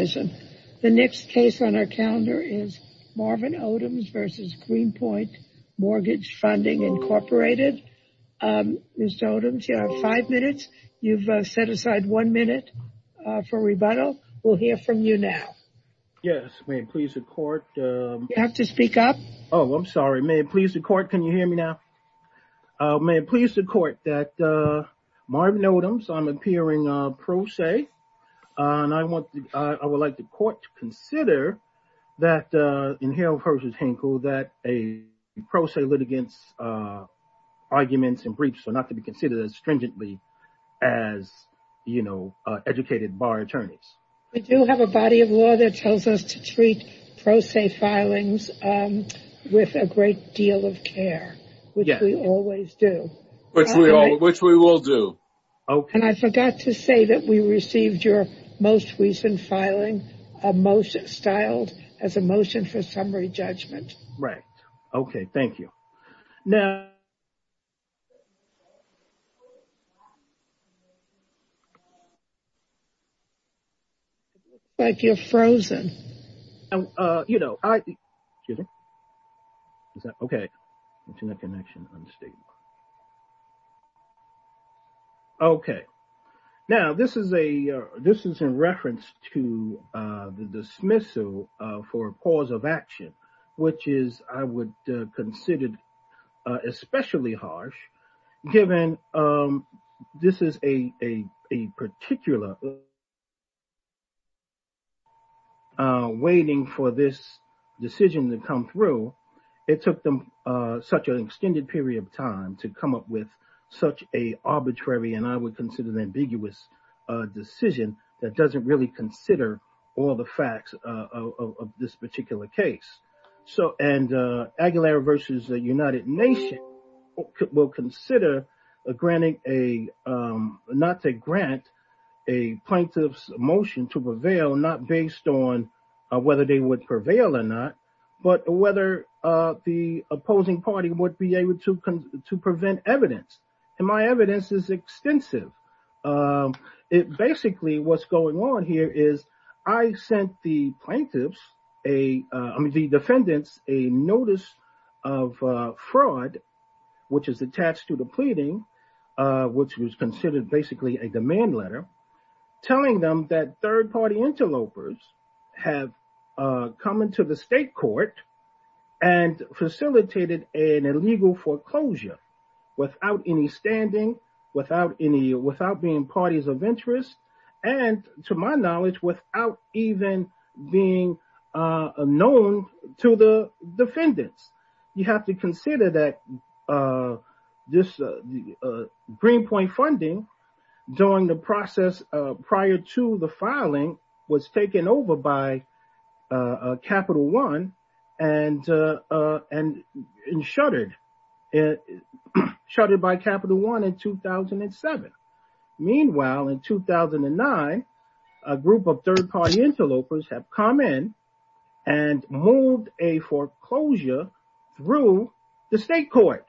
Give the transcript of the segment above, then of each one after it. The next case on our calendar is Marvin Odoms v. Greenpoint Mortgage Funding, Inc. Ms. Odoms, you have five minutes. You've set aside one minute for rebuttal. We'll hear from you now. Yes, may it please the court. You have to speak up. Oh, I'm sorry. May it please the court. Can you hear me now? May it please the court that Marvin Odoms, I'm appearing pro se, and I want to, I will like the court to consider that in Hale v. Hinkle that a pro se litigant's arguments and briefs are not to be considered as stringently as, you know, educated bar attorneys. We do have a body of law that tells us to treat pro se filings with a great deal of care, which we always do. Which we will do. And I forgot to say that we received your most recent filing, a motion, styled as a motion for summary judgment. Right. Okay. Thank you. Now. It looks like you're frozen. You know, I, excuse me. Is that, okay. Internet connection unstable. Okay. Now, this is a, this is in reference to the dismissal for a cause of action, which is, I would consider especially harsh given this is a particular waiting for this decision to come through. It took them such an extended period of time to come up with such a arbitrary and I would consider an ambiguous decision that doesn't really consider all the facts of this particular case. So, and Aguilera v. United Nations will consider granting a, not to grant a plaintiff's motion to prevail, not based on whether they would prevail or not, but whether the opposing party would be able to prevent evidence. And my evidence is extensive. It basically, what's going on here is I sent the plaintiffs a, I mean, the defendants a notice of fraud, which is attached to the pleading, which was considered basically a third party interlopers have come into the state court and facilitated an illegal foreclosure without any standing, without any, without being parties of interest. And to my knowledge, without even being known to the defendants, you have to consider that this Greenpoint funding during the process prior to the filing was taken over by Capital One and shuttered by Capital One in 2007. Meanwhile, in 2009, a group of third party interlopers have come in and moved a foreclosure through the state court.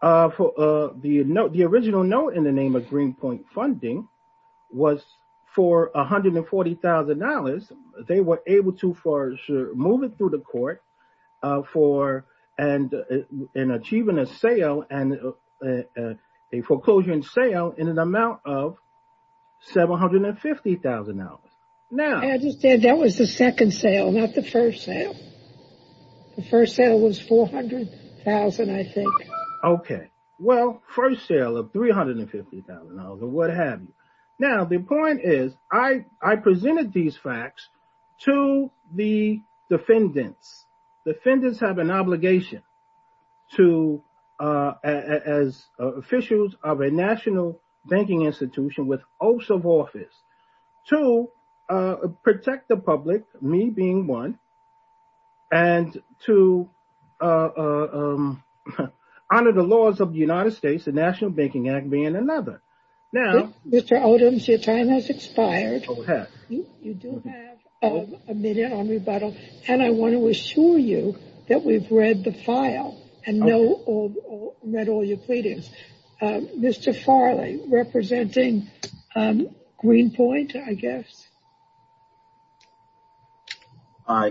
The original note in the name of Greenpoint funding was for $140,000. They were able to move it through the court for, and achieving a sale and a foreclosure and sale in an amount of $750,000. Now- The first sale was $400,000, I think. Okay. Well, first sale of $350,000 or what have you. Now the point is I presented these facts to the defendants. Defendants have an obligation to, as officials of a national banking institution with oaths of office, to protect the public, me being one, and to honor the laws of the United States, the National Banking Act being another. Now- Mr. Odoms, your time has expired. You do have a minute on rebuttal. And I want to assure you that we've read the file and read all your pleadings. Mr. Farley, representing Greenpoint, I guess.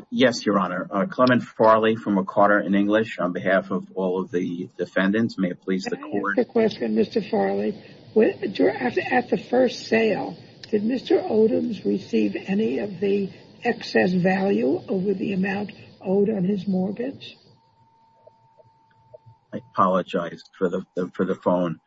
Yes, Your Honor. Clement Farley from McCarter & English on behalf of all of the defendants. May it please the court- I have a question, Mr. Farley. At the first sale, did Mr. Odoms receive any of the excess value over the amount owed on his mortgage? I apologize for the phone.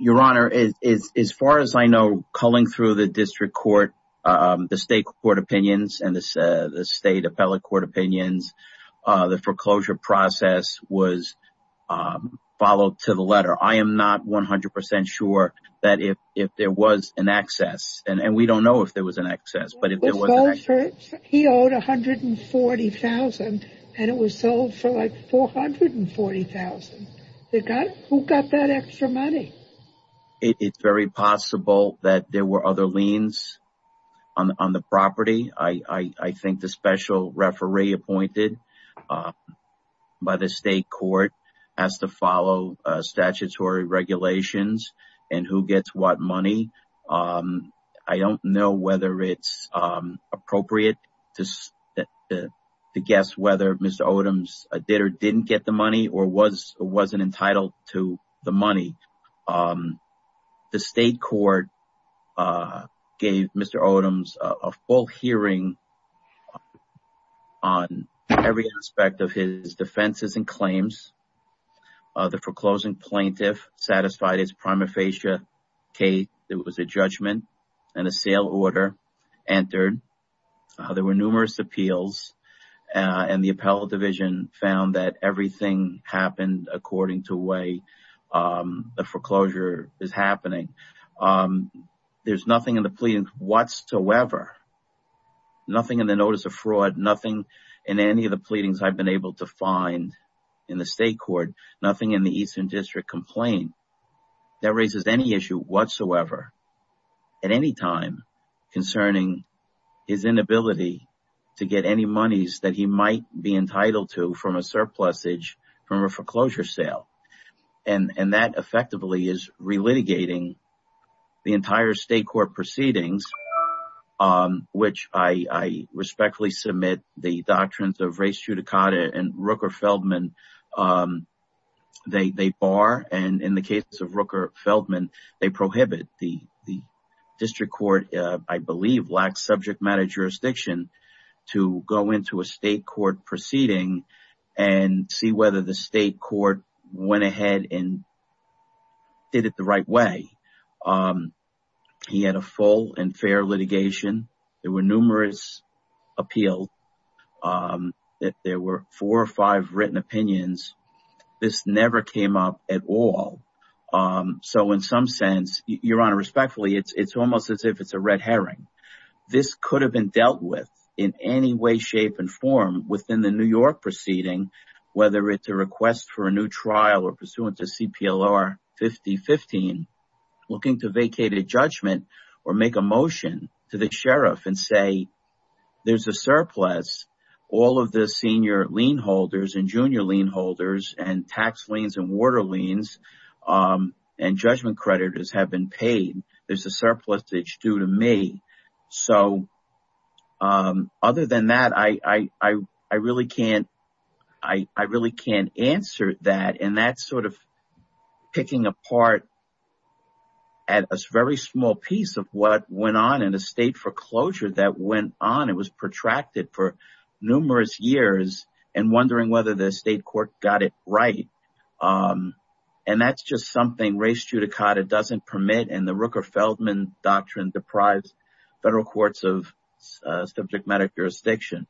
Your Honor, as far as I know, calling through the district court, the state court opinions and the state appellate court opinions, the foreclosure process was followed to the letter. I am not 100% sure that if there was an excess, and we don't know if there was an excess, but if there was an excess- He owed $140,000 and it was sold for like $440,000. Who got that extra money? It's very possible that there were other liens on the property. I think the special referee appointed by the state court has to follow statutory regulations and who gets what money. I don't know whether it's appropriate to guess whether Mr. Odoms did or didn't get the money or wasn't entitled to the money. The state court gave Mr. Odoms a full hearing on every aspect of his defenses and claims. The foreclosing plaintiff satisfied his prima facie case. It was a judgment and a sale order entered. There were numerous appeals and the appellate division found that everything happened according to the way the foreclosure is happening. There's nothing in the plea whatsoever, nothing in the notice of fraud, nothing in any of the state court, nothing in the Eastern District complaint that raises any issue whatsoever at any time concerning his inability to get any monies that he might be entitled to from a surplusage from a foreclosure sale. That effectively is relitigating the entire state court proceedings, which I respectfully submit the doctrines of race judicata and Rooker-Feldman. They bar and in the case of Rooker-Feldman, they prohibit. The district court, I believe, lacks subject matter jurisdiction to go into a state court proceeding and see whether the state court went ahead and did it the right way. He had a full and fair litigation. There were numerous appeals that there were four or five written opinions. This never came up at all. So, in some sense, your honor, respectfully, it's almost as if it's a red herring. This could have been dealt with in any way, shape and form within the New York proceeding, whether it's a request for a new trial or pursuant to CPLR 5015, looking to vacate a sheriff and say, there's a surplus. All of the senior lien holders and junior lien holders and tax liens and water liens and judgment creditors have been paid. There's a surplusage due to me. Other than that, I really can't answer that. And that's sort of picking apart at a very small piece of what went on in a state foreclosure that went on. It was protracted for numerous years and wondering whether the state court got it right. And that's just something res judicata doesn't permit. And the Rooker-Feldman doctrine deprives federal courts of subject matter jurisdiction.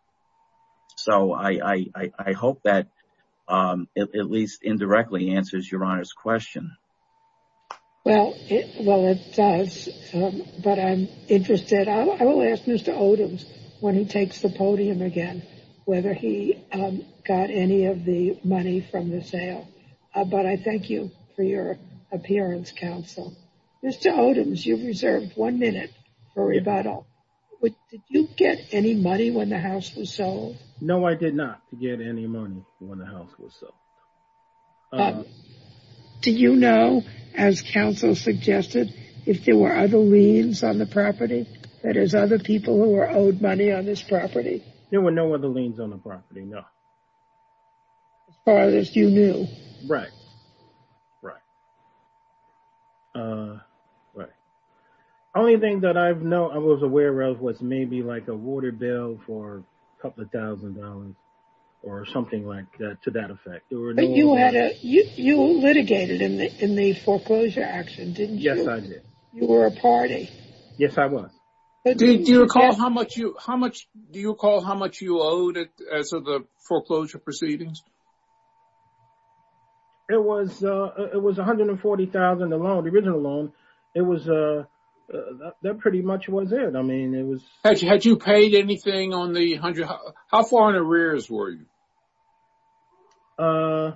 So I hope that at least indirectly answers your honor's question. Well, well, it does. But I'm interested. I will ask Mr. Odoms when he takes the podium again, whether he got any of the money from the sale. But I thank you for your appearance, counsel. Mr. Odoms, you reserved one minute for rebuttal. Did you get any money when the house was sold? No, I did not get any money when the house was sold. Do you know, as counsel suggested, if there were other liens on the property? That is, other people who were owed money on this property? There were no other liens on the property, no. As far as you knew. Right, right. Right. Only thing that I was aware of was maybe like a water bill for a couple thousand dollars or something like that, to that effect. You litigated in the foreclosure action, didn't you? Yes, I did. You were a party. Yes, I was. Do you recall how much you owed as of the foreclosure proceedings? It was $140,000, the loan, the original loan. It was, that pretty much was it. I mean, it was. Had you paid anything on the, how far in arrears were you? I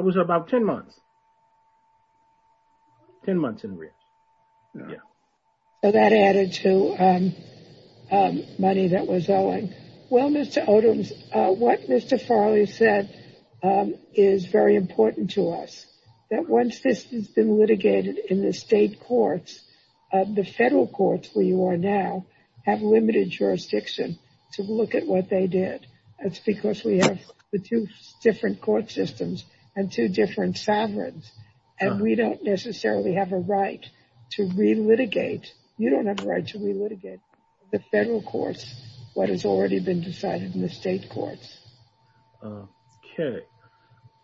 was about 10 months. 10 months in arrears. Yeah. So that added to money that was owing. Well, Mr. Odoms, what Mr. Farley said is very important to us. That once this has been litigated in the state courts, the federal courts where you are now have limited jurisdiction to look at what they did. That's because we have the two different court systems and two different sovereigns. And we don't necessarily have a right to relitigate. You don't have a right to relitigate. The federal courts, what has already been decided in the state courts. Okay.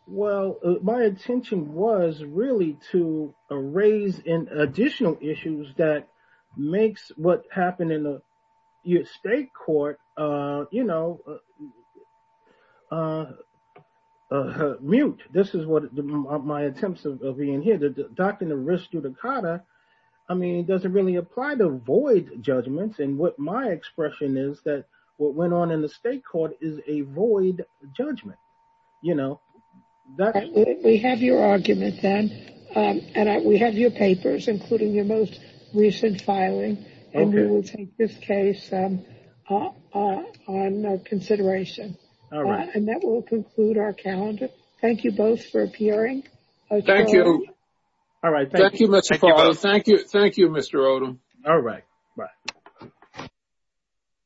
Well, my intention was really to raise additional issues that makes what happened in the state court, you know, mute. This is what my attempts are being here. I mean, it doesn't really apply to void judgments. And what my expression is that what went on in the state court is a void judgment, you know. We have your argument then. And we have your papers, including your most recent filing. And we will take this case on consideration. All right. And that will conclude our calendar. Thank you both for appearing. Thank you. All right. Thank you, Mr. Farrell. Thank you, Mr. Odom. All right. Bye.